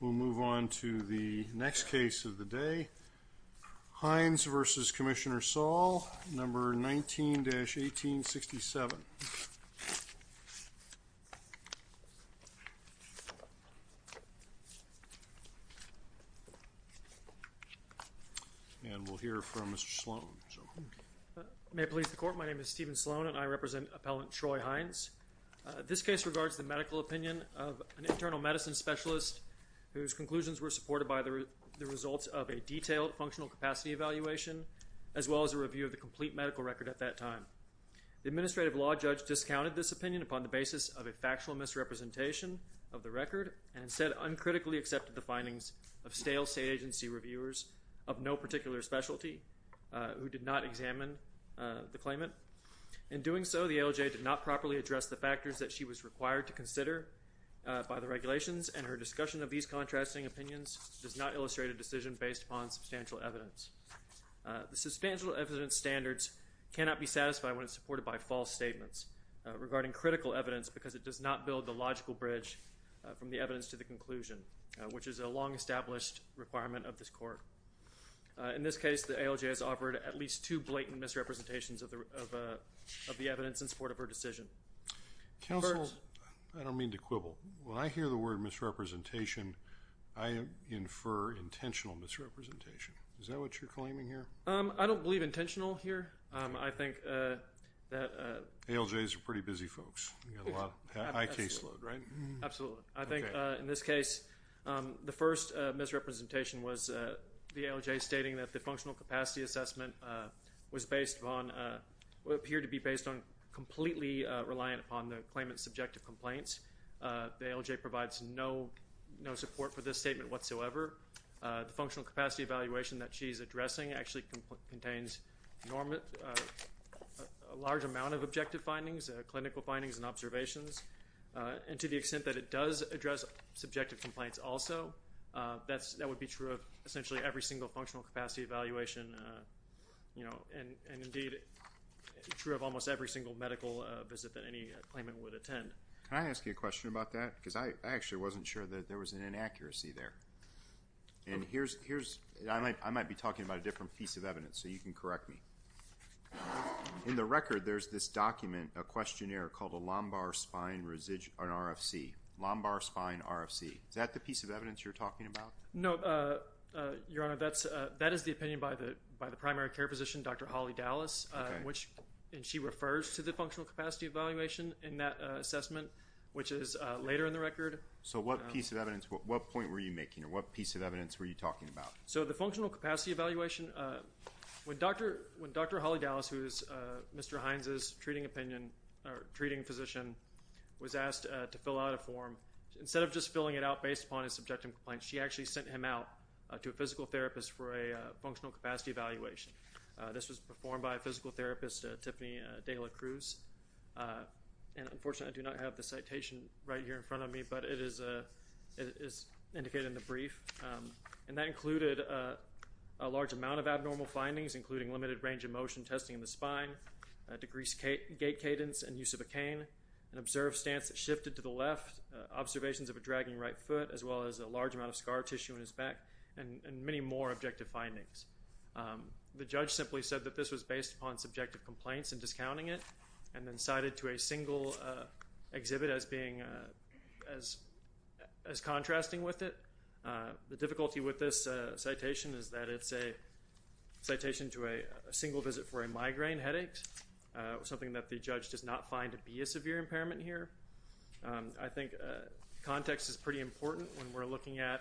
We'll move on to the next case of the day. Hinds v. Commissioner Saul, No. 19-1867. And we'll hear from Mr. Sloan. May it please the Court, my name is Stephen Sloan and I represent Appellant Troy Hinds. This case regards the medical opinion of an internal medicine specialist whose conclusions were supported by the results of a detailed functional capacity evaluation as well as a review of the complete medical record at that time. The administrative law judge discounted this opinion upon the basis of a factual misrepresentation of the record and instead uncritically accepted the findings of stale state agency reviewers of no particular specialty who did not examine the claimant. In doing so, the ALJ did not properly address the factors that she was required to consider by the regulations and her discussion of these contrasting opinions does not illustrate a decision based upon substantial evidence. The substantial evidence standards cannot be satisfied when it's supported by false statements regarding critical evidence because it does not build the logical bridge from the evidence to the conclusion, which is a long-established requirement of this Court. In this case, the ALJ has offered at least two blatant misrepresentations of the evidence in support of her decision. Counsel, I don't mean to quibble. When I hear the word misrepresentation, I infer intentional misrepresentation. Is that what you're claiming here? I don't believe intentional here. I think that... ALJs are pretty busy folks. You've got a lot of high caseload, right? Absolutely. I think in this case, the first misrepresentation was the ALJ stating that the functional capacity assessment was based on... appeared to be based on completely reliant upon the claimant's subjective complaints. The ALJ provides no support for this statement whatsoever. The functional capacity evaluation that she's addressing actually contains a large amount of objective findings, clinical findings, and observations. And to the extent that it does address subjective complaints also, that would be true of essentially every single functional capacity evaluation. And indeed, true of almost every single medical visit that any claimant would attend. Can I ask you a question about that? Because I actually wasn't sure that there was an inaccuracy there. And here's... I might be talking about a different piece of evidence, so you can correct me. In the record, there's this document, a questionnaire called a lumbar spine RFC. Lumbar spine RFC. Is that the piece of evidence you're talking about? No, Your Honor. That is the opinion by the primary care physician, Dr. Holly Dallas. And she refers to the functional capacity evaluation in that assessment, which is later in the record. So what piece of evidence... What point were you making? Or what piece of evidence were you talking about? So the functional capacity evaluation... When Dr. Holly Dallas, who is Mr. Hines' treating opinion or treating physician, was asked to fill out a form, instead of just filling it out based upon his subjective complaints, she actually sent him out to a physical therapist for a functional capacity evaluation. This was performed by a physical therapist, Tiffany Dela Cruz. And unfortunately, I do not have the citation right here in front of me, but it is indicated in the brief. And that included a large amount of abnormal findings, including limited range of motion testing in the spine, decreased gait cadence and use of a cane, an observed stance that shifted to the left, observations of a dragging right foot, as well as a large amount of scar tissue in his back, and many more objective findings. The judge simply said that this was based upon subjective complaints and discounting it, and then cited to a single exhibit as contrasting with it. The difficulty with this citation is that it's a citation to a single visit for a migraine headache, something that the judge does not find to be a severe impairment here. I think context is pretty important when we're looking at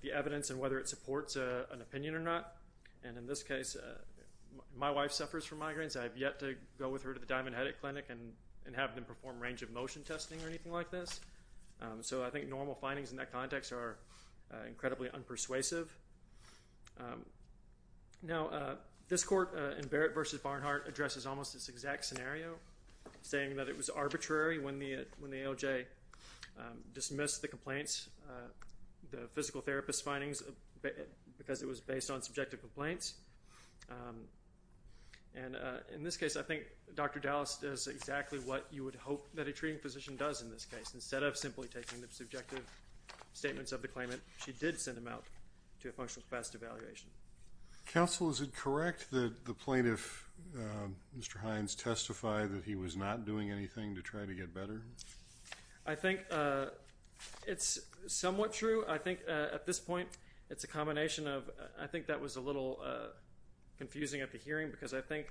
the evidence and whether it supports an opinion or not. And in this case, my wife suffers from migraines. I have yet to go with her to the Diamond Headache Clinic and have them perform range of motion testing or anything like this. So I think normal findings in that context are incredibly unpersuasive. Now, this court in Barrett v. Barnhart addresses almost this exact scenario, saying that it was arbitrary when the AOJ dismissed the complaints, the physical therapist findings, because it was based on subjective complaints. And in this case, I think Dr. Dallas does exactly what you would hope that a treating physician does in this case. Instead of simply taking the subjective statements of the claimant, she did send him out to a functional capacity evaluation. Counsel, is it correct that the plaintiff, Mr. Hines, testified that he was not doing anything to try to get better? I think it's somewhat true. I think at this point, it's a combination of, I think that was a little confusing at the hearing, because I think,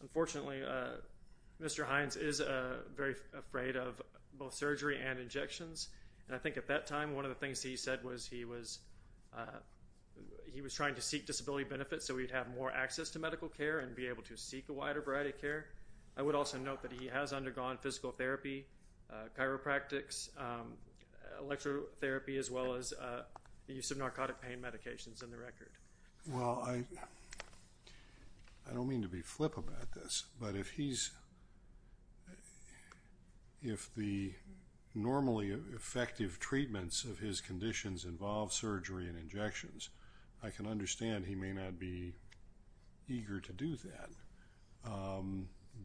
unfortunately, Mr. Hines is very afraid of both surgery and injections. And I think at that time, one of the things he said was he was trying to seek disability benefits so he'd have more access to medical care and be able to seek a wider variety of care. I would also note that he has undergone physical therapy, chiropractics, electrotherapy, as well as the use of narcotic pain medications in the record. Well, I don't mean to be flip about this, but if the normally effective treatments of his conditions involve surgery and injections, I can understand he may not be eager to do that.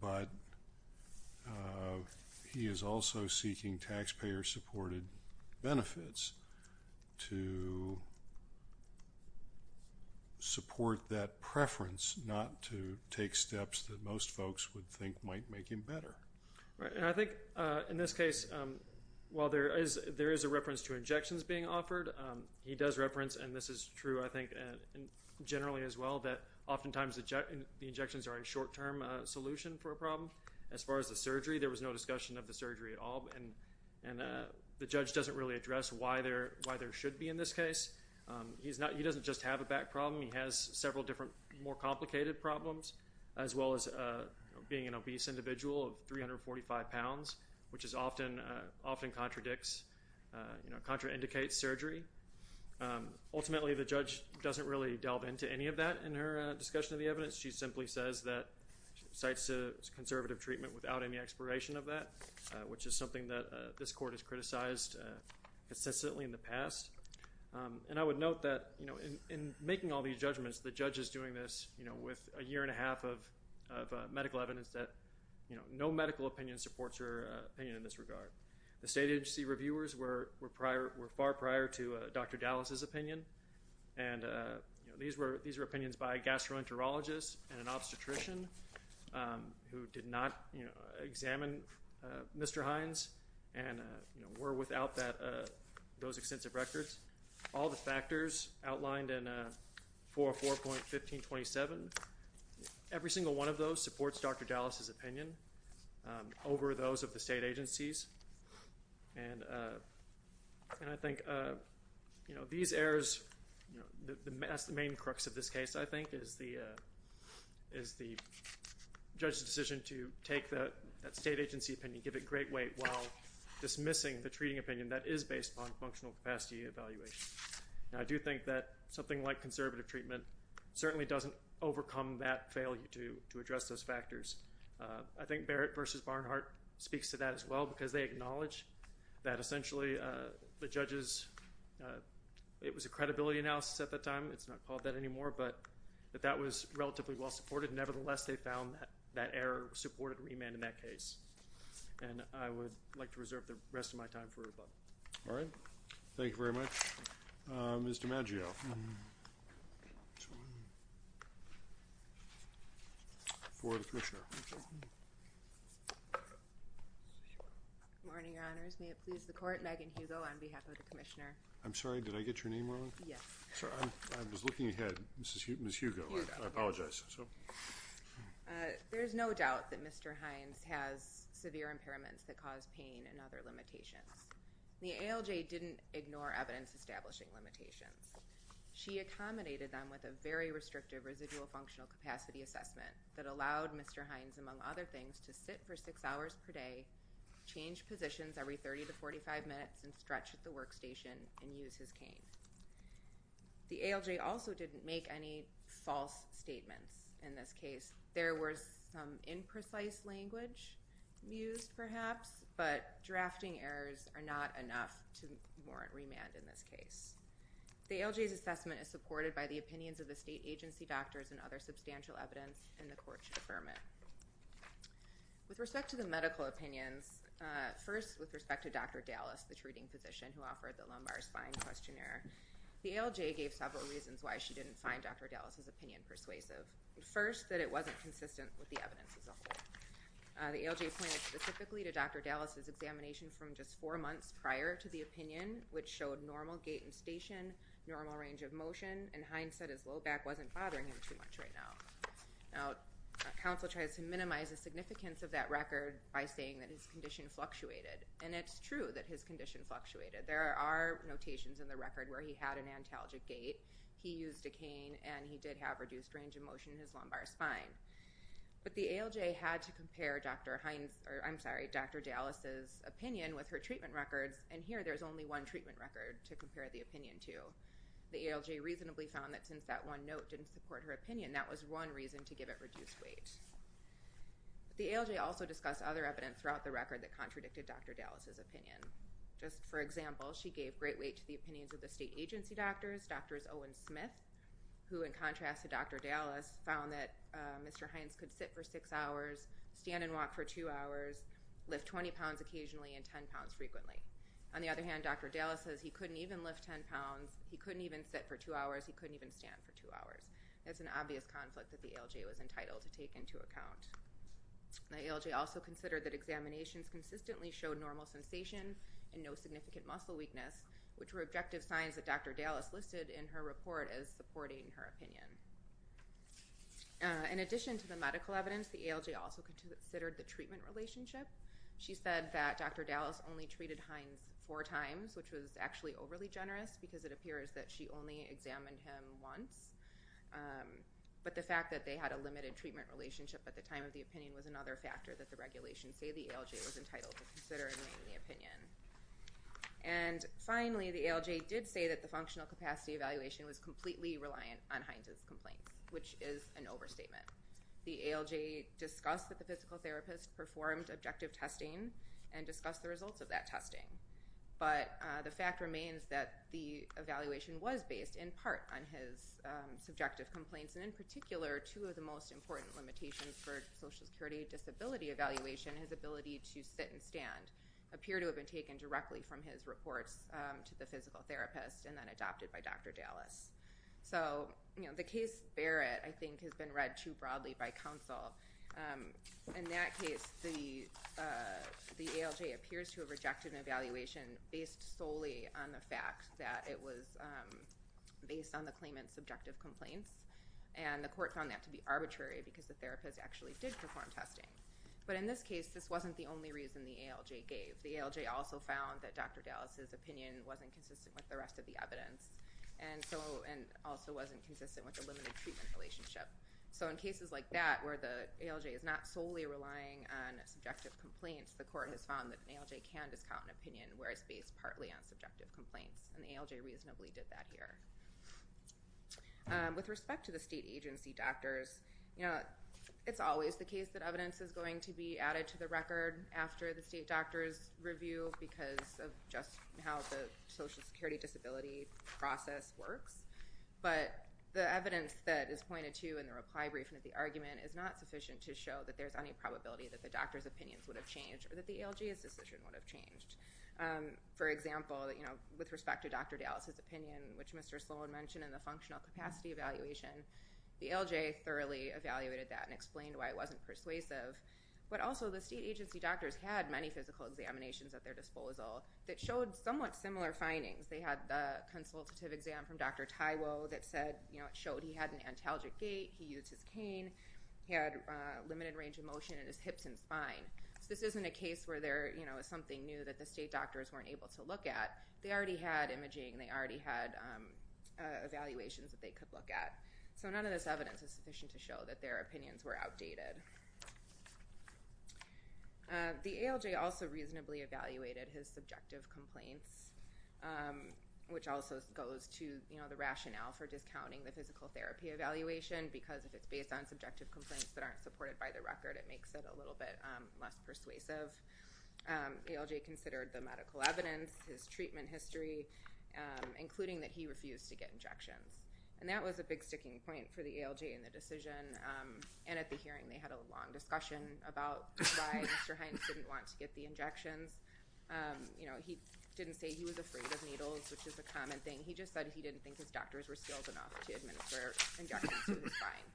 But he is also seeking taxpayer-supported benefits to support that preference not to take steps that most folks would think might make him better. And I think in this case, while there is a reference to injections being offered, he does reference, and this is true, I think, generally as well, that oftentimes the injections are a short-term solution for a problem. As far as the surgery, there was no discussion of the surgery at all, and the judge doesn't really address why there should be in this case. He doesn't just have a back problem. He has several different, more complicated problems, as well as being an obese individual of 345 pounds, which often contraindicates surgery. Ultimately, the judge doesn't really delve into any of that in her discussion of the evidence. She simply says that she cites conservative treatment without any exploration of that, which is something that this court has criticized consistently in the past. And I would note that in making all these judgments, the judge is doing this with a year and a half of medical evidence that no medical opinion supports her opinion in this regard. The state agency reviewers were far prior to Dr. Dallas's opinion, and these were opinions by a gastroenterologist and an obstetrician who did not examine Mr. Hines and were without those extensive records. All the factors outlined in 404.1527, every single one of those supports Dr. Dallas's opinion over those of the state agencies. And I think these errors, the main crux of this case, I think, is the judge's decision to take that state agency opinion, give it great weight, while dismissing the treating opinion that is based upon functional capacity evaluation. Now, I do think that something like conservative treatment certainly doesn't overcome that failure to address those factors. I think Barrett v. Barnhart speaks to that as well, because they acknowledge that essentially the judge's, it was a credibility analysis at that time, it's not called that anymore, but that that was relatively well supported. Nevertheless, they found that that error supported remand in that case. And I would like to reserve the rest of my time for rebuttal. All right. Thank you very much. Mr. Maggio. Good morning, Your Honors. May it please the Court, Megan Hugo on behalf of the Commissioner. I'm sorry, did I get your name wrong? Yes. I was looking ahead, Ms. Hugo, I apologize. There is no doubt that Mr. Hines has severe impairments that cause pain and other limitations. The ALJ didn't ignore evidence establishing limitations. She accommodated them with a very restrictive residual functional capacity assessment that allowed Mr. Hines, among other things, to sit for six hours per day, change positions every 30 to 45 minutes, and stretch at the workstation and use his cane. The ALJ also didn't make any false statements in this case. There was some imprecise language used, perhaps, but drafting errors are not enough to warrant remand in this case. The ALJ's assessment is supported by the opinions of the state agency doctors and other substantial evidence, and the Court should affirm it. With respect to the medical opinions, first, with respect to Dr. Dallas, the treating physician who offered the lumbar spine questionnaire, the ALJ gave several reasons why she didn't find Dr. Dallas's opinion persuasive. First, that it wasn't consistent with the evidence as a whole. The ALJ pointed specifically to Dr. Dallas's examination from just four months prior to the opinion, which showed normal gait and station, normal range of motion, and Hines said his low back wasn't bothering him too much right now. Now, counsel tries to minimize the significance of that record by saying that his condition fluctuated, and it's true that his condition fluctuated. There are notations in the record where he had an antalgic gait, he used a cane, and he did have reduced range of motion in his lumbar spine. But the ALJ had to compare Dr. Dallas's opinion with her treatment records, and here there's only one treatment record to compare the opinion to. The ALJ reasonably found that since that one note didn't support her opinion, that was one reason to give it reduced weight. The ALJ also discussed other evidence throughout the record that contradicted Dr. Dallas's opinion. Just for example, she gave great weight to the opinions of the state agency doctors, Dr. Owen Smith, who in contrast to Dr. Dallas, found that Mr. Hines could sit for six hours, stand and walk for two hours, lift 20 pounds occasionally, and 10 pounds frequently. On the other hand, Dr. Dallas says he couldn't even lift 10 pounds, he couldn't even sit for two hours, he couldn't even stand for two hours. That's an obvious conflict that the ALJ was entitled to take into account. The ALJ also considered that examinations consistently showed normal sensation and no significant muscle weakness, which were objective signs that Dr. Dallas listed in her report as supporting her opinion. In addition to the medical evidence, the ALJ also considered the treatment relationship. She said that Dr. Dallas only treated Hines four times, which was actually overly generous because it appears that she only examined him once. But the fact that they had a limited treatment relationship at the time of the opinion was another factor that the regulations say the ALJ was entitled to consider in writing the opinion. And finally, the ALJ did say that the functional capacity evaluation was completely reliant on Hines' complaints, which is an overstatement. The ALJ discussed that the physical therapist performed objective testing and discussed the results of that testing. But the fact remains that the evaluation was based in part on his subjective complaints, and in particular, two of the most important limitations for social security disability evaluation, his ability to sit and stand, appear to have been taken directly from his reports to the physical therapist and then adopted by Dr. Dallas. So the case Barrett, I think, has been read too broadly by counsel. In that case, the ALJ appears to have rejected an evaluation based solely on the fact that it was based on the claimant's subjective complaints, and the court found that to be arbitrary because the therapist actually did perform testing. But in this case, this wasn't the only reason the ALJ gave. The ALJ also found that Dr. Dallas' opinion wasn't consistent with the rest of the evidence and also wasn't consistent with the limited treatment relationship. So in cases like that where the ALJ is not solely relying on subjective complaints, the court has found that an ALJ can discount an opinion where it's based partly on subjective complaints, and the ALJ reasonably did that here. With respect to the state agency doctors, it's always the case that evidence is going to be added to the record after the state doctor's review because of just how the social security disability process works. But the evidence that is pointed to in the reply briefing of the argument is not sufficient to show that there's any probability that the doctor's opinions would have changed or that the ALJ's decision would have changed. For example, with respect to Dr. Dallas' opinion, which Mr. Sloan mentioned in the functional capacity evaluation, the ALJ thoroughly evaluated that and explained why it wasn't persuasive. But also, the state agency doctors had many physical examinations at their disposal that showed somewhat similar findings. They had the consultative exam from Dr. Taiwo that showed he had an antalgic gait, he used his cane, he had limited range of motion in his hips and spine. So this isn't a case where there is something new that the state doctors weren't able to look at. They already had imaging, they already had evaluations that they could look at. So none of this evidence is sufficient to show that their opinions were outdated. The ALJ also reasonably evaluated his subjective complaints. Which also goes to the rationale for discounting the physical therapy evaluation because if it's based on subjective complaints that aren't supported by the record, it makes it a little bit less persuasive. ALJ considered the medical evidence, his treatment history, including that he refused to get injections. And that was a big sticking point for the ALJ in the decision. And at the hearing, they had a long discussion about why Mr. Hines didn't want to get the injections. He didn't say he was afraid of needles, which is a common thing. He just said he didn't think his doctors were skilled enough to administer injections to his spine.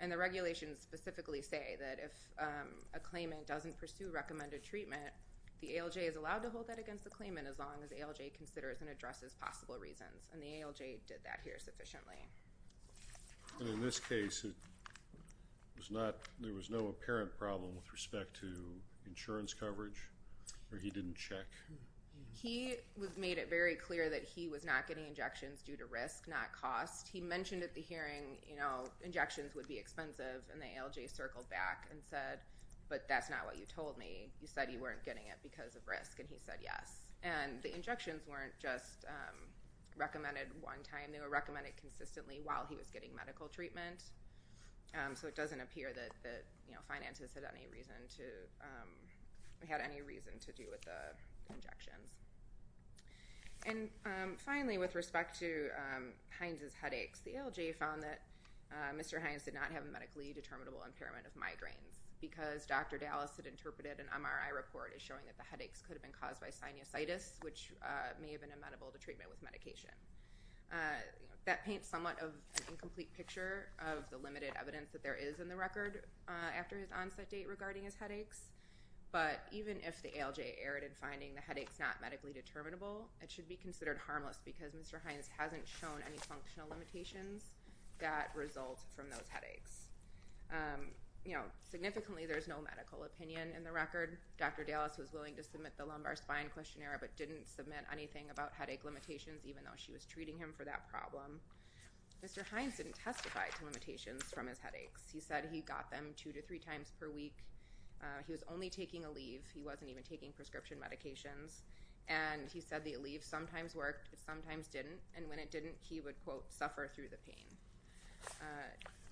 And the regulations specifically say that if a claimant doesn't pursue recommended treatment, the ALJ is allowed to hold that against the claimant as long as ALJ considers and addresses possible reasons. And the ALJ did that here sufficiently. And in this case, there was no apparent problem with respect to insurance coverage? Or he didn't check? He made it very clear that he was not getting injections due to risk, not cost. He mentioned at the hearing, you know, injections would be expensive. And the ALJ circled back and said, but that's not what you told me. You said you weren't getting it because of risk. And he said yes. And the injections weren't just recommended one time. They were recommended consistently while he was getting medical treatment. So it doesn't appear that, you know, finances had any reason to do with the injections. And finally, with respect to Hines' headaches, the ALJ found that Mr. Hines did not have a medically determinable impairment of migraines because Dr. Dallas had interpreted an MRI report as showing that the headaches could have been caused by sinusitis, which may have been amenable to treatment with medication. That paints somewhat of an incomplete picture of the limited evidence that there is in the record after his onset date regarding his headaches. But even if the ALJ erred in finding the headaches not medically determinable, it should be considered harmless because Mr. Hines hasn't shown any functional limitations that result from those headaches. You know, significantly, there's no medical opinion in the record. Dr. Dallas was willing to submit the lumbar spine questionnaire but didn't submit anything about headache limitations, even though she was treating him for that problem. Mr. Hines didn't testify to limitations from his headaches. He said he got them two to three times per week. He was only taking Aleve. He wasn't even taking prescription medications. And he said the Aleve sometimes worked, sometimes didn't.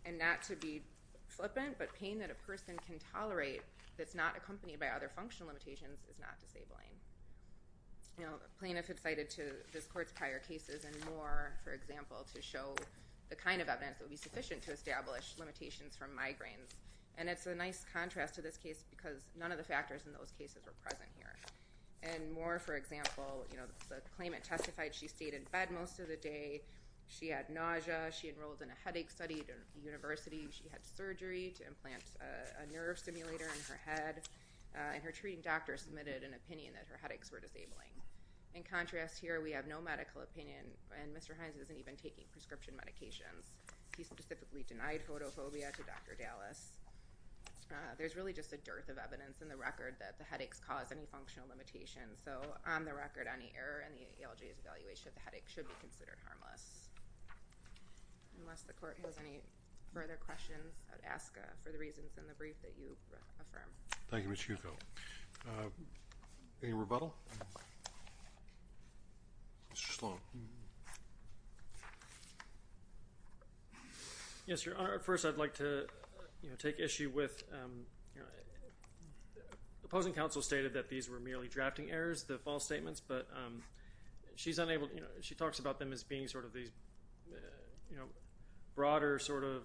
And not to be flippant, but pain that a person can tolerate that's not accompanied by other functional limitations is not disabling. Plain if it's cited to this court's prior cases and more, for example, to show the kind of evidence that would be sufficient to establish limitations from migraines. And it's a nice contrast to this case because none of the factors in those cases were present here. And more, for example, the claimant testified she stayed in bed most of the day, she had nausea, she enrolled in a headache study at a university, she had surgery to implant a nerve simulator in her head, and her treating doctor submitted an opinion that her headaches were disabling. In contrast here, we have no medical opinion, and Mr. Hines isn't even taking prescription medications. He specifically denied photophobia to Dr. Dallas. There's really just a dearth of evidence in the record that the headaches cause any functional limitations. So, on the record, any error in the ALJ's evaluation of the headache should be considered harmless. Unless the court has any further questions, I would ask for the reasons in the brief that you affirm. Thank you, Ms. Schucco. Any rebuttal? Yes, Your Honor. First, I'd like to take issue with opposing counsel stated that these were merely drafting errors, the false statements, but she talks about them as being sort of these broader sort of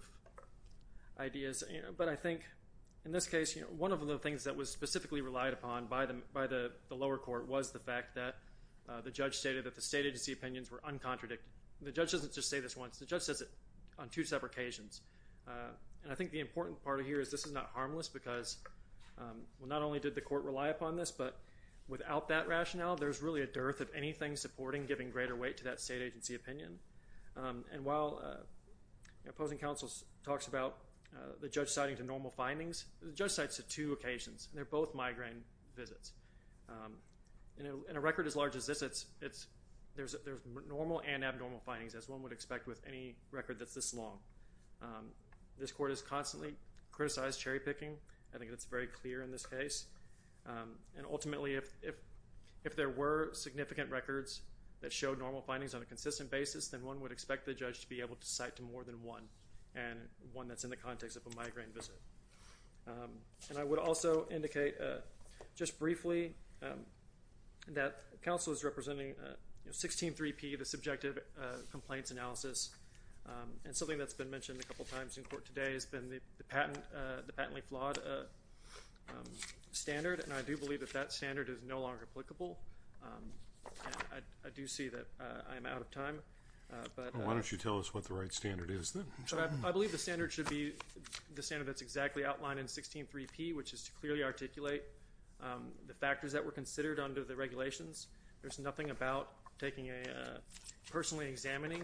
ideas. But I think in this case, one of the things that was specifically relied upon by the lower court was the fact that the judge stated that the state agency opinions were uncontradicted. And the judge doesn't just say this once. The judge says it on two separate occasions. And I think the important part here is this is not harmless because, well, not only did the court rely upon this, but without that rationale, there's really a dearth of anything supporting giving greater weight to that state agency opinion. And while opposing counsel talks about the judge citing to normal findings, the judge cites to two occasions, and they're both migraine visits. In a record as large as this, there's normal and abnormal findings, as one would expect with any record that's this long. This court has constantly criticized cherry picking. I think that's very clear in this case. And ultimately, if there were significant records that showed normal findings on a consistent basis, then one would expect the judge to be able to cite to more than one, and one that's in the context of a migraine visit. And I would also indicate just briefly that counsel is representing 16-3P, the subjective complaints analysis. And something that's been mentioned a couple times in court today has been the patently flawed standard. And I do believe that that standard is no longer applicable. I do see that I am out of time. Well, why don't you tell us what the right standard is then? I believe the standard should be the standard that's exactly outlined in 16-3P, which is to clearly articulate the factors that were considered under the regulations. There's nothing about taking a personally examining,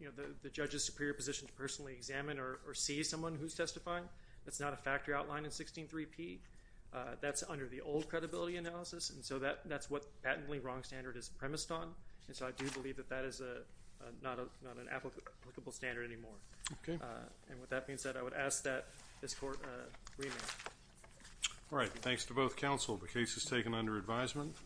you know, the judge's superior position to personally examine or see someone who's testifying. That's not a factor outlined in 16-3P. That's under the old credibility analysis, and so that's what patently wrong standard is premised on. And so I do believe that that is not an applicable standard anymore. Okay. And with that being said, I would ask that this court remain. All right. Thanks to both counsel. The case is taken under advisement.